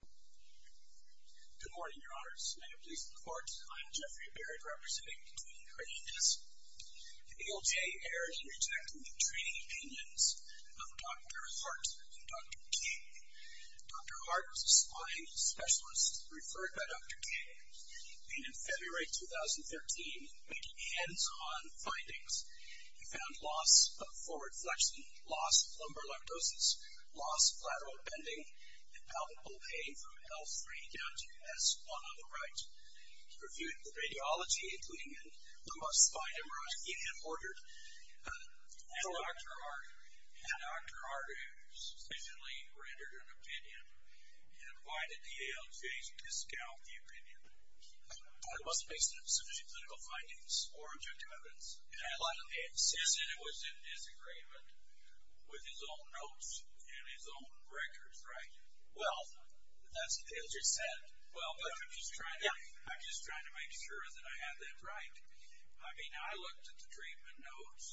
Good morning, Your Honors. May it please the Court, I am Jeffrey Berry representing the Queen Hernandez. AOJ errs in rejecting the training opinions of Dr. Hart and Dr. Kaye. Dr. Hart was a spine specialist referred by Dr. Kaye, and in February 2013, making hands-on findings, he found loss of forward flexion, loss of lumbar lactosis, loss of lateral bending, and palpable pain from L3 down to S1 on the right. He reviewed the radiology, including the cost of spine MRI, and he had ordered Dr. Hart, who sufficiently rendered an opinion, and invited the AOJ to scout the opinion. But it wasn't based on sufficient clinical findings or objective evidence, and he insisted it was in disagreement with his own notes and his own records, right? Well, that's what he just said. Well, but I'm just trying to make sure that I have that right. I mean, I looked at the treatment notes.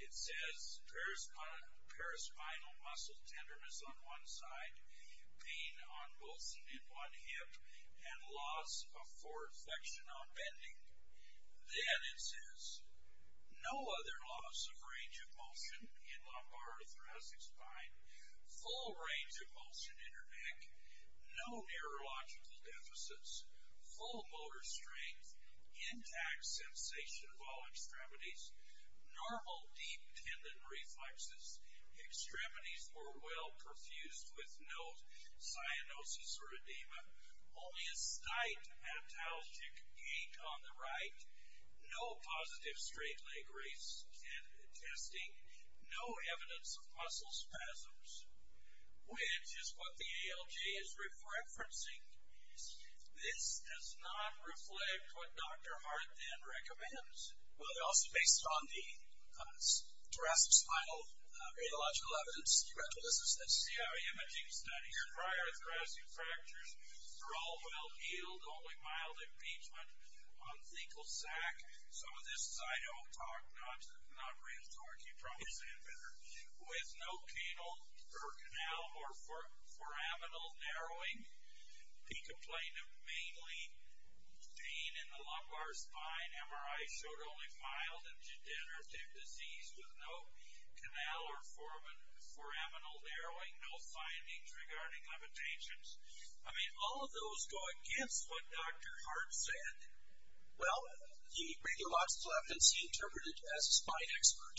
It says paraspinal muscle tenderness on one side, pain on both in one hip, and loss of forward flexion on bending. Then it says, no other loss of range of motion in lumbar or thoracic spine, full range of motion in your neck, no neurological deficits, full motor strength, intact sensation of all extremities, normal deep tendon reflexes, extremities were well perfused with no cyanosis or edema, only a slight haptalgic ache on the right, no positive straight leg race testing, no evidence of muscle spasms, which is what the AOJ is referencing. This does not reflect what Dr. Hart then recommends. Well, but also based on the thoracic spinal neurological evidence, you have to listen to this. This is a CI imaging study. Your prior thoracic fractures were all well healed, only mild impeachment on fecal sac. Some of this is I don't talk, not real talk. You probably say it better. With no canal or foraminal narrowing. He complained of mainly pain in the lumbar spine. MRI showed only mild and degenerative disease with no canal or foraminal narrowing, no findings regarding limitations. I mean, all of those go against what Dr. Hart said. Well, the radiologist left and he interpreted as a spine expert.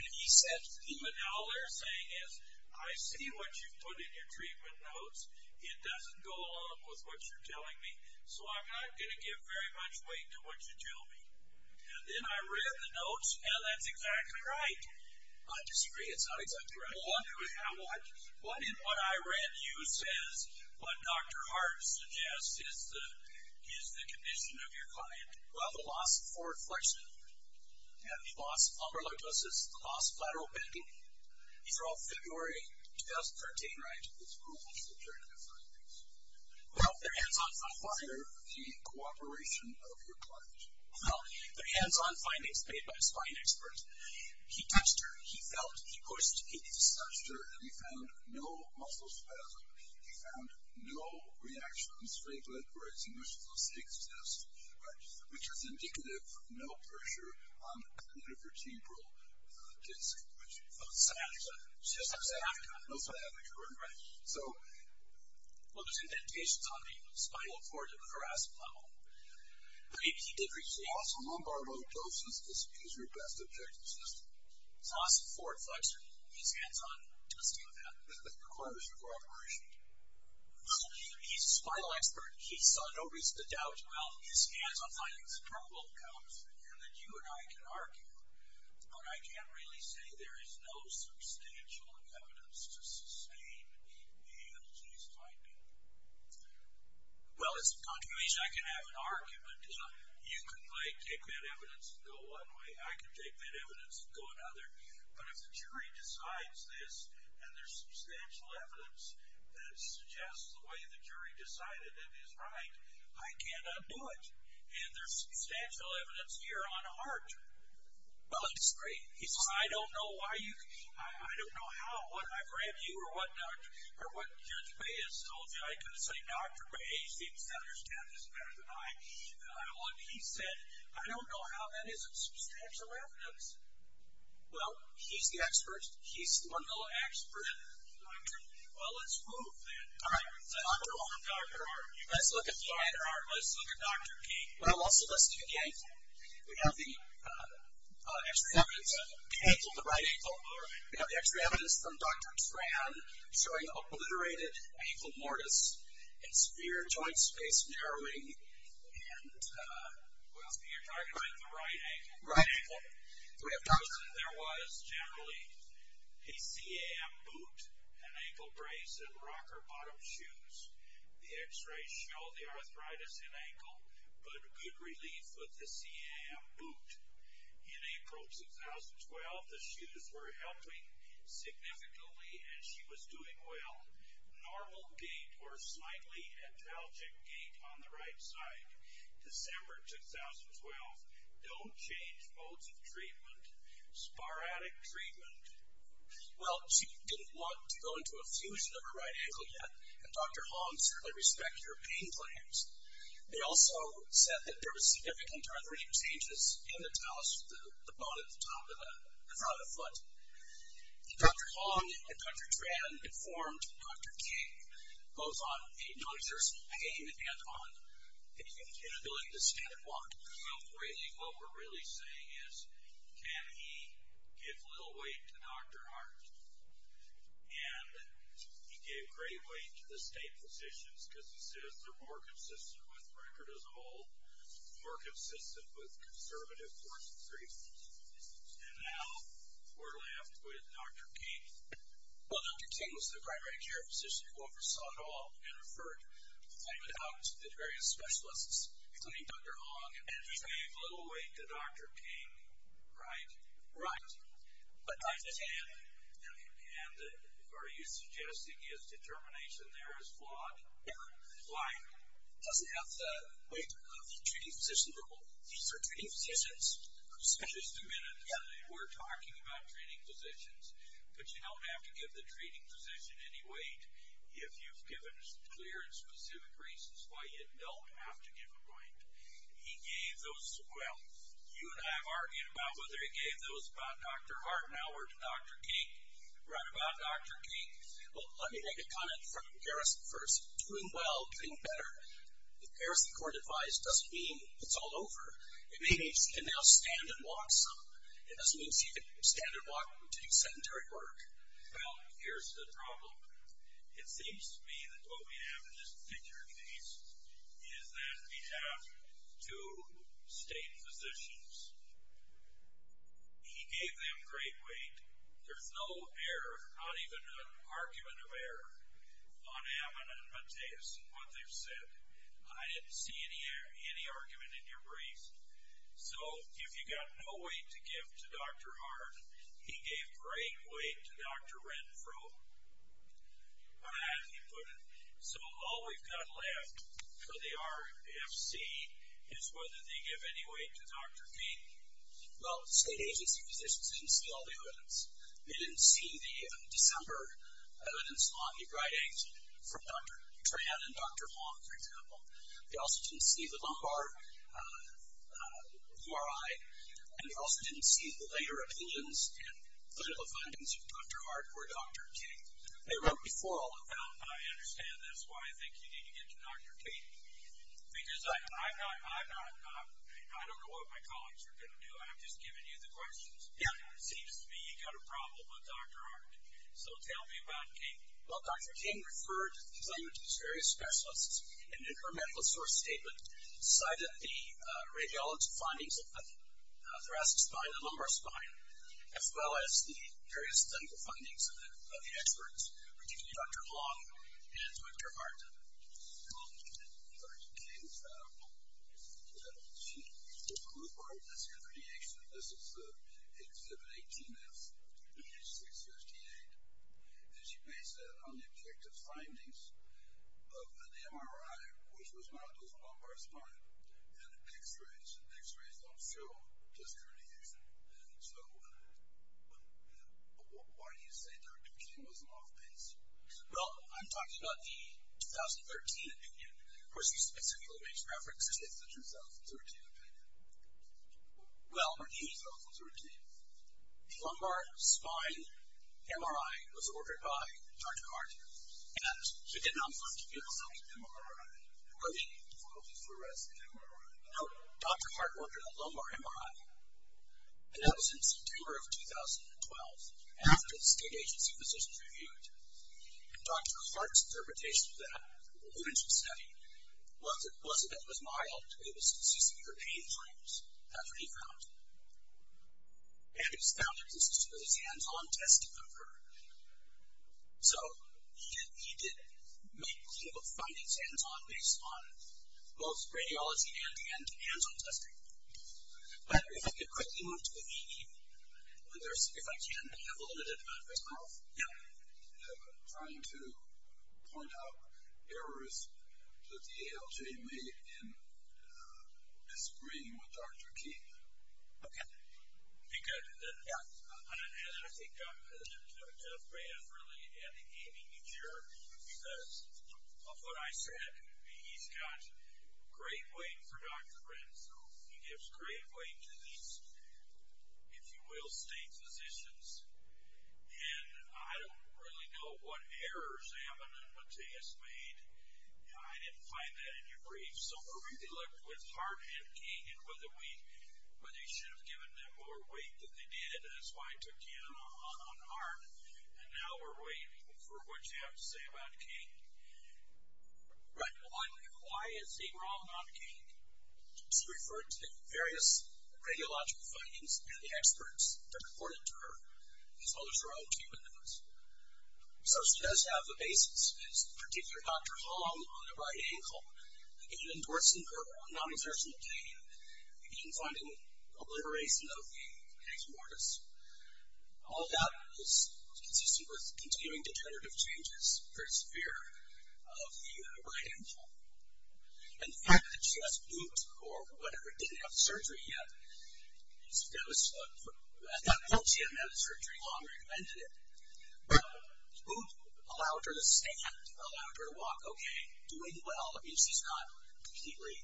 And he said, even though all they're saying is, I see what you put in your treatment notes, it doesn't go along with what you're telling me, so I'm not going to give very much weight to what you tell me. And then I read the notes, and that's exactly right. I disagree, it's not exactly right. What in what I read you says what Dr. Hart suggests is the condition of your client? Well, the loss of forward flexion, the loss of lumbar latosis, the loss of lateral bending. These are all February 2013, right? It's April 2013, the findings. Well, they're hands-on findings. Why are they the cooperation of your client? Well, they're hands-on findings made by a spine expert. He touched her, he felt, he coerced, he discussed her, and he found no muscle spasm. He found no reaction in the straight leg where his initial cystic cyst, right? Which is indicative of no pressure on the clitoral vertebral disc. Oh, sciatica. Sciatica. No sciatica, right? Right. So, well, there's indentations on the spinal cord at the thoracic level. But he did receive. The loss of lumbar latosis is your best objective system. Loss of forward flexion. He's hands-on testing of that. What is the cooperation? Well, he's a spinal expert. He saw no reason to doubt. Well, he's hands-on findings. The purple comes, and then you and I can argue. But I can't really say there is no substantial evidence to sustain a male GYP. Well, as a contribution, I can have an argument. You can, like, take that evidence and go one way. I can take that evidence and go another. But if the jury decides this, and there's substantial evidence that suggests the way the jury decided it is right, I cannot do it. And there's substantial evidence here on a heart. Well, it's great. I don't know why you can't. I don't know how. I don't know what I've read you or what Judge May has told you. I could say, Dr. May seems to understand this better than I do. He said, I don't know how that isn't substantial evidence. Well, he's the expert. He's the one little expert. Well, let's move then. All right. Let's move on, Dr. Hart. Let's look at Dr. King. Well, let's look at the ankle. We have the extra evidence of the right ankle. We have the extra evidence from Dr. Tran showing obliterated ankle mortise and severe joint space narrowing. And, well, you're talking about the right ankle. Right ankle. So we have those. There was generally a CAM boot, an ankle brace, and rocker bottom shoes. The x-rays show the arthritis in ankle, but good relief with the CAM boot. In April 2012, the shoes were helping significantly, and she was doing well. Normal gait or slightly antalgic gait on the right side. December 2012, don't change modes of treatment. Sporadic treatment. Well, she didn't want to go into a fusion of her right ankle yet, and Dr. Hong certainly respects your pain claims. They also said that there was significant arthritic changes in the talus, the bone at the top of the front foot. Dr. Hong and Dr. Tran informed Dr. King goes on a non-exercise pain and on an inability to stand and walk. Really what we're really saying is can he give little weight to Dr. Hart, and he gave great weight to the state physicians because he says they're more consistent with record as a whole, more consistent with conservative course of treatment. And now we're left with Dr. King. Well, Dr. King was the primary care physician who oversaw it all and referred it out to the various specialists, including Dr. Hong, and he gave little weight to Dr. King, right? Right. And are you suggesting his determination there is flawed? Does he have the weight of the treating physician level? These are treating physicians. Just a minute. We're talking about treating physicians, but you don't have to give the treating physician any weight if you've given clear and specific reasons why you don't have to give him weight. He gave those, well, you and I have argued about whether he gave those about Dr. Hart now or to Dr. King. Right about Dr. King. Well, let me make a comment from Garrison first. Doing well, getting better. If Garrison couldn't advise, it doesn't mean it's all over. It means he can now stand and walk some. It doesn't mean he can stand and walk and do sedentary work. Well, here's the problem. It seems to me that what we have in this particular case is that we have two state physicians. He gave them great weight. There's no error, not even an argument of error, on Ammon and Mateus and what they've said. I didn't see any argument in your brief. So if you've got no weight to give to Dr. Hart, he gave great weight to Dr. Renfro, as he put it. So all we've got left for the RFC is whether they give any weight to Dr. King. Well, the state agency physicians didn't see all the evidence. They didn't see the December evidence lobby writings from Dr. Tran and Dr. Wong, for example. They also didn't see the Lombard URI, and they also didn't see the later opinions and political findings of Dr. Hart or Dr. King. They wrote before all of that. I understand. That's why I think you need to get to Dr. King. Because I don't know what my colleagues are going to do. I'm just giving you the questions. It seems to me you've got a problem with Dr. Hart. So tell me about King. Well, Dr. King referred the various specialists in her medical source statement, cited the radiology findings of the thoracic spine and lumbar spine, as well as the various clinical findings of the experts, particularly Dr. Wong and Dr. Hart. Dr. King found that she included this in her creation. This is Exhibit 18F, page 658, and she based that on the objective findings of an MRI, which was modeled on the lumbar spine, and x-rays. And x-rays don't show disc herniation. So why do you say Dr. King was off base? Well, I'm talking about the 2013 opinion. Of course, you submit similar age preference. It's the 2013 opinion. Well, or the 2013. The lumbar spine MRI was ordered by Dr. Hart, and he did not want to give us an MRI, or the photofluorescent MRI. No, Dr. Hart ordered a lumbar MRI, and that was in September of 2012. After the state agency physicians reviewed it, Dr. Hart's interpretation of that, the evidence he studied, was that it was mild. It was consistent with her pain points. That's what he found. And he found that it was consistent with his hands-on testing of her. So he did make clinical findings hands-on, based on both radiology and hands-on testing. But if I could quickly move to the EE, if I can, I have a little bit of a mouth. Yeah. I'm trying to point out errors that the ALJ made in disagreeing with Dr. King. Okay. Be good. Yeah. And I think Dr. Ray has really had a game changer, because of what I said. He's got great weight for Dr. Prince, so he gives great weight to these, if you will, state physicians. And I don't really know what errors Ammon and Mateus made. I didn't find that in your brief. So we're really left with Hart and King, and whether they should have given them more weight than they did. And that's why I took you in on Hart. And now we're waiting for what you have to say about King. Right. Why is he wrong on King? She referred to the various radiological findings and the experts that reported to her, as well as her own treatment notes. So she does have the basis. It's the particular Dr. Hong on the right ankle, again, endorsing her non-exertional gain, again, finding a liberation of the aneurysm. All of that is consistent with continuing determinative changes for his fear of the right ankle. And the fact that she has boot, or whatever, didn't have surgery yet, I thought she hadn't had surgery long or invented it. But boot allowed her to stand, allowed her to walk. OK, doing well. I mean, she's not completely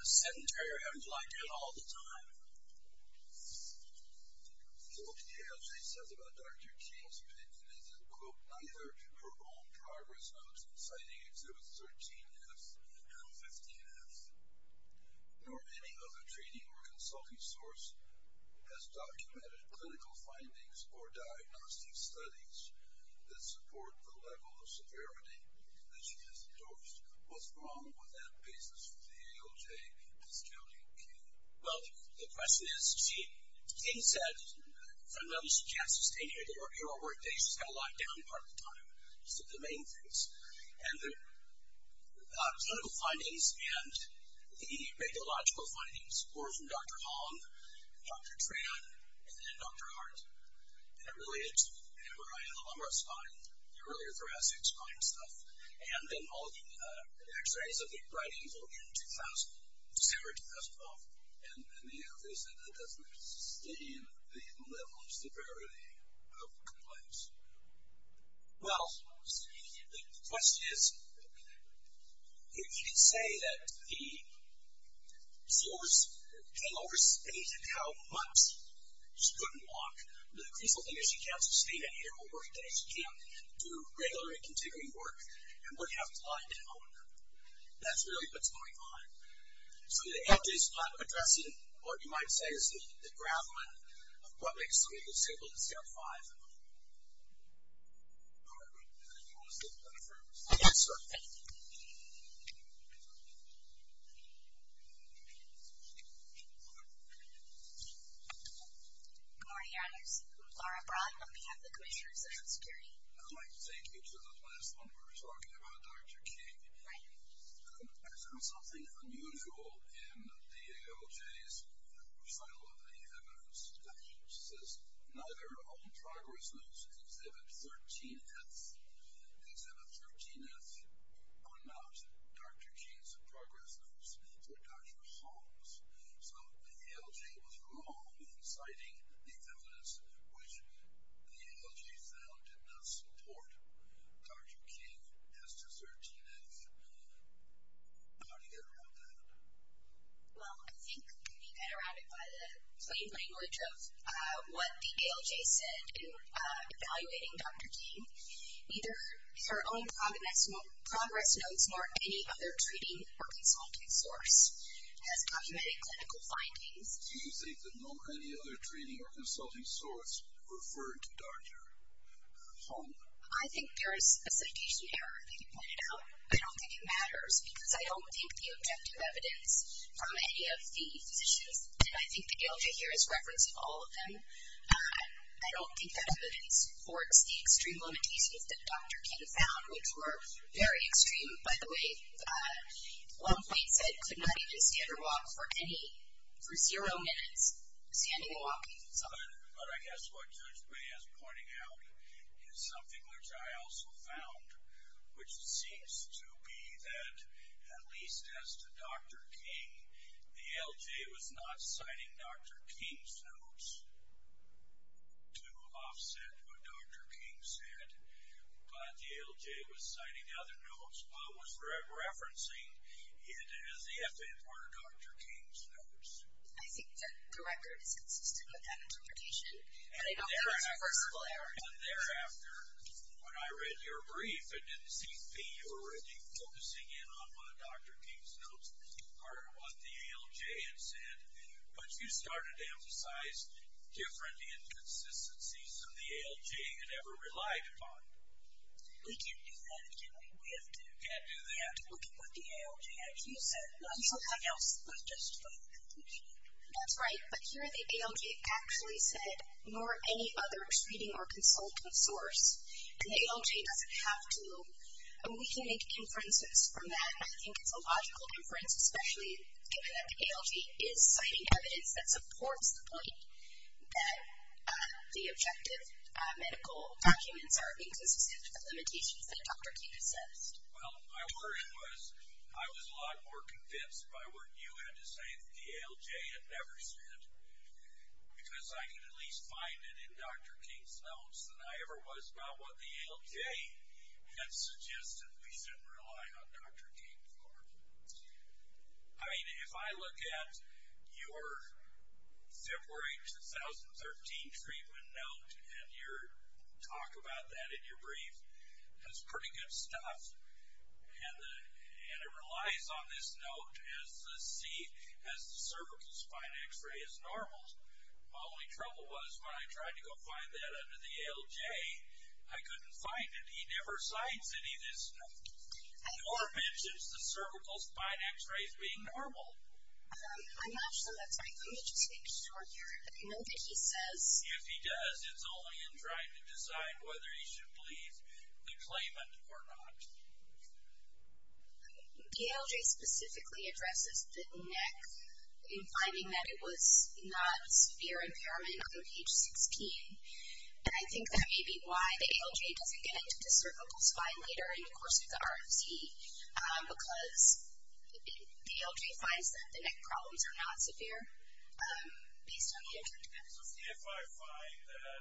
sedentary or having to lie down all the time. What the LJ says about Dr. King's fitness is, quote, neither her own progress notes citing Exhibits 13F and 15F, nor any other training or consulting source, has documented clinical findings or diagnostic studies that support the level of severity that she has endorsed. What's wrong with that basis for the LJ discounting King? Well, the question is, she, King said, fundamentally, she can't sustain her workday. She's got to lie down part of the time. These are the main things. And the clinical findings and the radiological findings were from Dr. Hong, Dr. Tran, and then Dr. Hart. And it related to hemorrhoid and the lumbar spine, the earlier thoracic spine stuff, and then all the x-rays of the right ankle in December 2012. And the LJ said that doesn't sustain the level of severity of complaints. Well, the question is, if you can say that the source, King overstated how much she couldn't walk, but increasingly she can't sustain any of her workdays. She can't do regular and continuing work and wouldn't have to lie down. That's really what's going on. So the LJ's not addressing what you might say is the graveling of what makes people disabled in step five. All right. Do you want to say a few words? Yes, sir. Good morning, honors. I'm Laura Brown on behalf of the Commission on Social Security. I'd like to take you to the last one where we're talking about Dr. King. Right. I found something unusual in the ALJ's recital of the Evidence section. It says, neither all progress notes exhibit 13th. Exhibit 13th are not Dr. King's progress notes. They're Dr. Hall's. So the ALJ was wrong in citing the Evidence, which the ALJ found did not support. Dr. King has to 13th. How do you get around that? Well, I think you get around it by the plain language of what the ALJ said in evaluating Dr. King. Neither her own progress notes nor any other treating or consulting source has documented clinical findings. Do you think that no other treating or consulting source referred to Dr. Hall? I think there is a citation error that you pointed out. I don't think it matters because I don't think the objective evidence from any of the physicians, and I think the ALJ here is referencing all of them, I don't think that evidence supports the extreme limitations that Dr. King found, which were very extreme. By the way, one point said could not even stand or walk for any, for zero minutes, standing or walking. But I guess what Judge May has pointed out is something which I also found, which seems to be that at least as to Dr. King, the ALJ was not citing Dr. King's notes to offset what Dr. King said, but the ALJ was citing other notes while it was referencing it as the FN word, Dr. King's notes. I think that the record is consistent with that interpretation, but I don't think it's a reversible error. And thereafter, when I read your brief, it didn't seem to be you were really focusing in on what Dr. King's notes were, part of what the ALJ had said, but you started to emphasize different inconsistencies than the ALJ had ever relied upon. We can't do that. We can't be whipped. You can't do that. We have to look at what the ALJ actually said, not something else, but just from the conclusion. That's right, but here the ALJ actually said nor any other treating or consulting source, and the ALJ doesn't have to. We can make inferences from that, and I think it's a logical inference, especially given that the ALJ is citing evidence that supports the point that the objective medical documents are inconsistent with the limitations that Dr. King assessed. Well, my word was I was a lot more convinced by what you had to say that the ALJ had never said because I could at least find it in Dr. King's notes than I ever was about what the ALJ had suggested we shouldn't rely on Dr. King for. I mean, if I look at your February 2013 treatment note and your talk about that in your brief, that's pretty good stuff, and it relies on this note as the cervical spine x-ray is normal. My only trouble was when I tried to go find that under the ALJ, I couldn't find it. He never cites any of this, nor mentions the cervical spine x-rays being normal. I'm not sure that's right. Let me just make sure here that I know that he says... If he does, it's only in trying to decide whether he should believe the claimant or not. The ALJ specifically addresses the neck in finding that it was not a severe impairment on page 16, and I think that may be why the ALJ doesn't get into the cervical spine later, and, of course, with the RFC, because the ALJ finds that the neck problems are not severe based on the interdependencies. So if I find that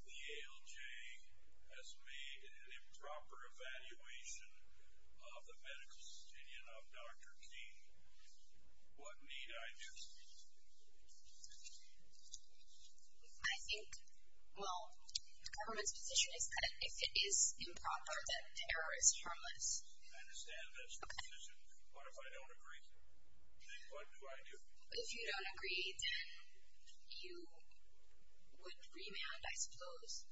the ALJ has made an improper evaluation of the medical opinion of Dr. King, what need I do? I think, well, the government's position is that if it is improper, that terror is harmless. I understand that's the position. What if I don't agree? Then what do I do? If you don't agree, then you would remand, I suppose.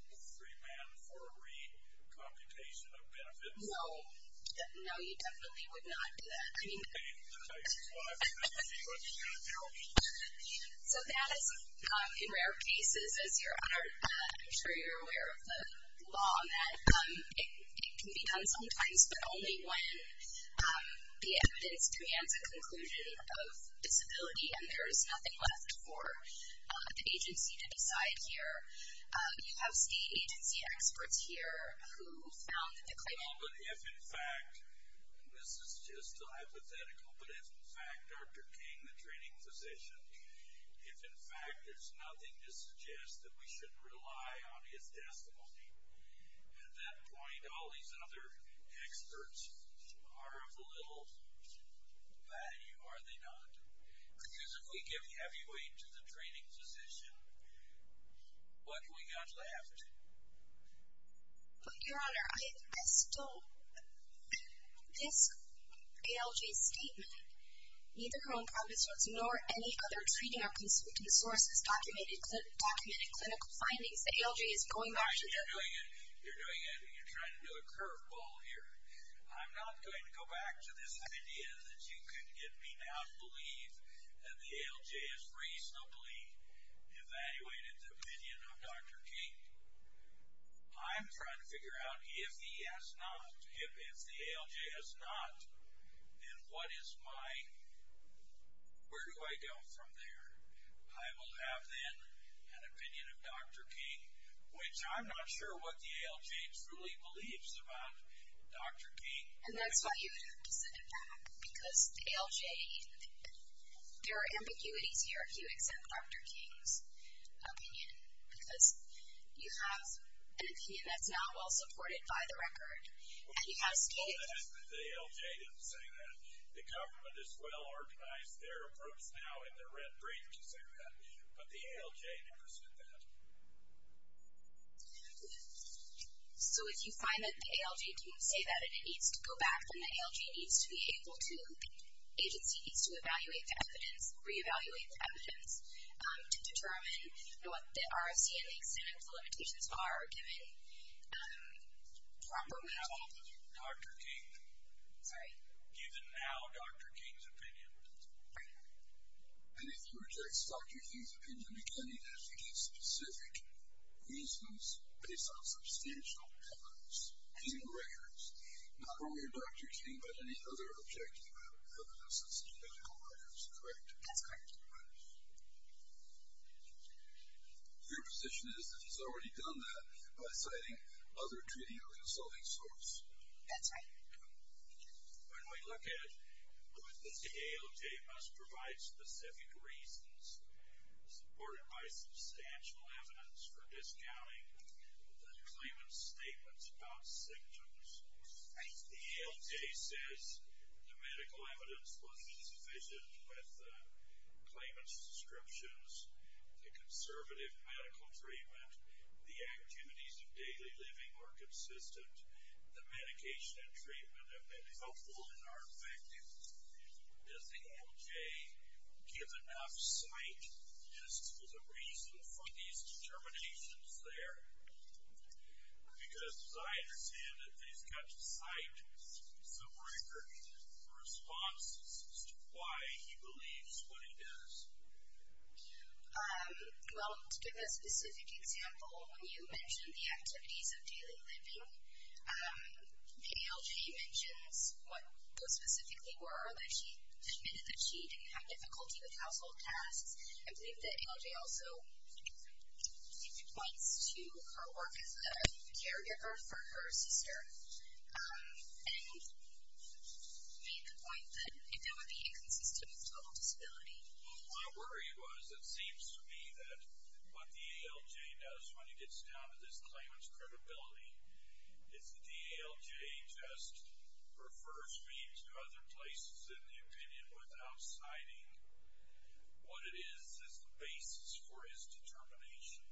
No. No, you definitely would not do that. So that is, in rare cases, as you're aware of the law, that it can be done sometimes, but only when the evidence demands a conclusion of disability and there is nothing left for the agency to decide here. You have state agency experts here who found that the claimant... No, but if, in fact, this is just hypothetical, but if, in fact, Dr. King, the training physician, if, in fact, there's nothing to suggest that we should rely on his testimony, at that point, all these other experts are of little value, are they not? Because if we give heavy weight to the training physician, what do we got left? But, Your Honour, I still... This ALJ statement, neither her own province nor any other treating or consulting source has documented clinical findings that ALJ is going after... You're trying to do a curveball here. I'm not going to go back to this idea that you can get me to out-believe that the ALJ has reasonably evaluated the opinion of Dr. King. I'm trying to figure out, if the ALJ has not, then what is my... Where do I go from there? I will have, then, an opinion of Dr. King, which I'm not sure what the ALJ truly believes about Dr. King. And that's why you have to send it back, because the ALJ... There are ambiguities here, if you accept Dr. King's opinion, because you have an opinion that's not well-supported by the record, and you have stated... The ALJ didn't say that. The government has well-organized their approach now in the Red Bridge area, but the ALJ never said that. So if you find that the ALJ didn't say that, and it needs to go back, then the ALJ needs to be able to... The agency needs to evaluate the evidence, re-evaluate the evidence, to determine what the RFC and the extent of the limitations are, given proper way to... Given how Dr. King... Sorry? Given how Dr. King's opinion... And if you reject Dr. King's opinion, you can't even advocate specific reasons based on substantial evidence, even records, not only of Dr. King, but any other objective evidence, such as medical records, correct? That's correct. Your position is that he's already done that by citing other treaty or consulting source. That's right. When we look at... The ALJ must provide specific reasons, supported by substantial evidence for discounting the claimant's statements about symptoms. The ALJ says the medical evidence was sufficient with the claimant's descriptions, the conservative medical treatment, the activities of daily living were consistent, the medication and treatment have been helpful and are effective. Does the ALJ give enough sight as to the reason for these determinations there? Because as I understand it, they've got to cite some record responses as to why he believes what he does. Well, to give a specific example, when you mentioned the activities of daily living, the ALJ mentions what those specifically were, that she admitted that she didn't have difficulty with household tasks. I believe the ALJ also points to her work as a caregiver for her sister and made the point that it would be inconsistent with total disability. Well, my worry was it seems to me that what the ALJ does when he gets down to this claimant's credibility is the ALJ just refers me to other places in the opinion without citing what it is as the basis for his determination.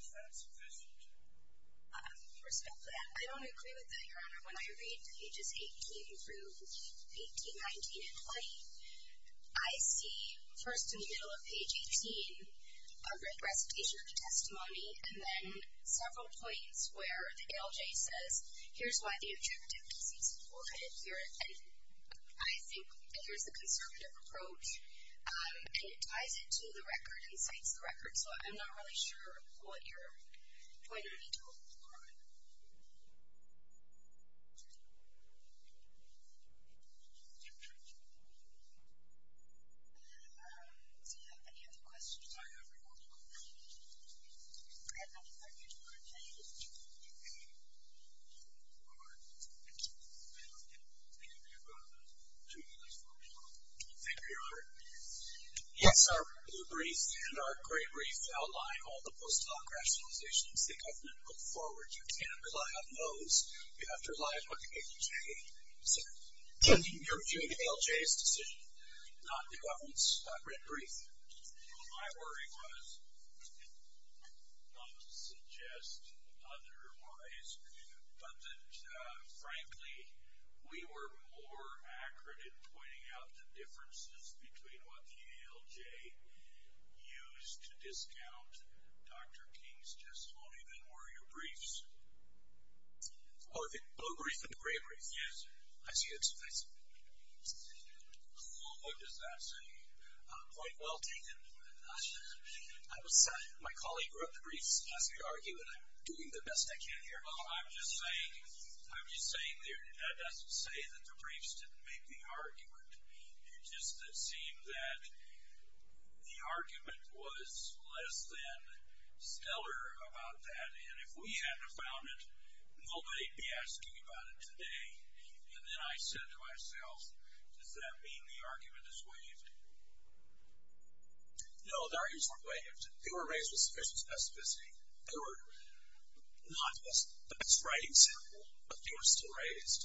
Is that sufficient? First of all, I don't agree with that, Your Honor. When I read pages 18 through 18, 19, and 20, I see, first in the middle of page 18, a recitation of the testimony and then several points where the ALJ says, here's why the attributivity seems to be overheaded here, and I think here's the conservative approach, and it ties it to the record and cites the record. So I'm not really sure what you're pointing me to, Your Honor. Does anyone have any other questions? I have one, Your Honor. Thank you, Your Honor. Yes, our blue brief and our gray brief outline all the postdoc rationalizations the government put forward. You can't rely on those. You have to rely on the ALJ. Your ALJ's decision, not the government's red brief. My worry was, not to suggest otherwise, but that, frankly, we were more accurate in pointing out the differences between what the ALJ used to discount Dr. King's testimony than were your briefs. Oh, the blue brief and the gray brief. Yes. I see it. Thanks. What does that say? Quite well taken. My colleague wrote the briefs, asked me to argue, and I'm doing the best I can here. I'm just saying that doesn't say that the briefs didn't make the argument. It just seemed that the argument was less than stellar about that, and if we hadn't have found it, nobody would be asking about it today. And then I said to myself, does that mean the argument is waived? No, the arguments weren't waived. They were raised with sufficient specificity. They were not the best writing sample, but they were still raised.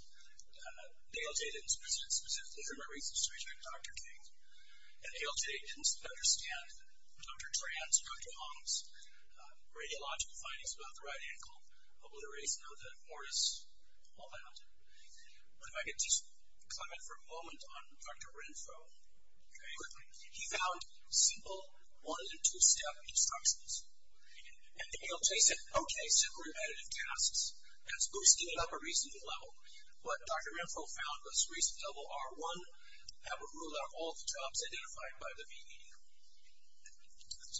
The ALJ didn't specifically, for my reasons to reject Dr. King, and the ALJ didn't understand Dr. Tran's, Dr. Hung's, radiological findings about the right ankle, obliteration of the mortis, all that. But if I could just comment for a moment on Dr. Renfro. Okay. He found simple one and two-step instructions. And the ALJ said, okay, simple repetitive tasks. That's boosting it up a reasonable level. But Dr. Renfro found those reasonable level are, one, have a rule out of all the jobs identified by the VE. That's it. Thank you.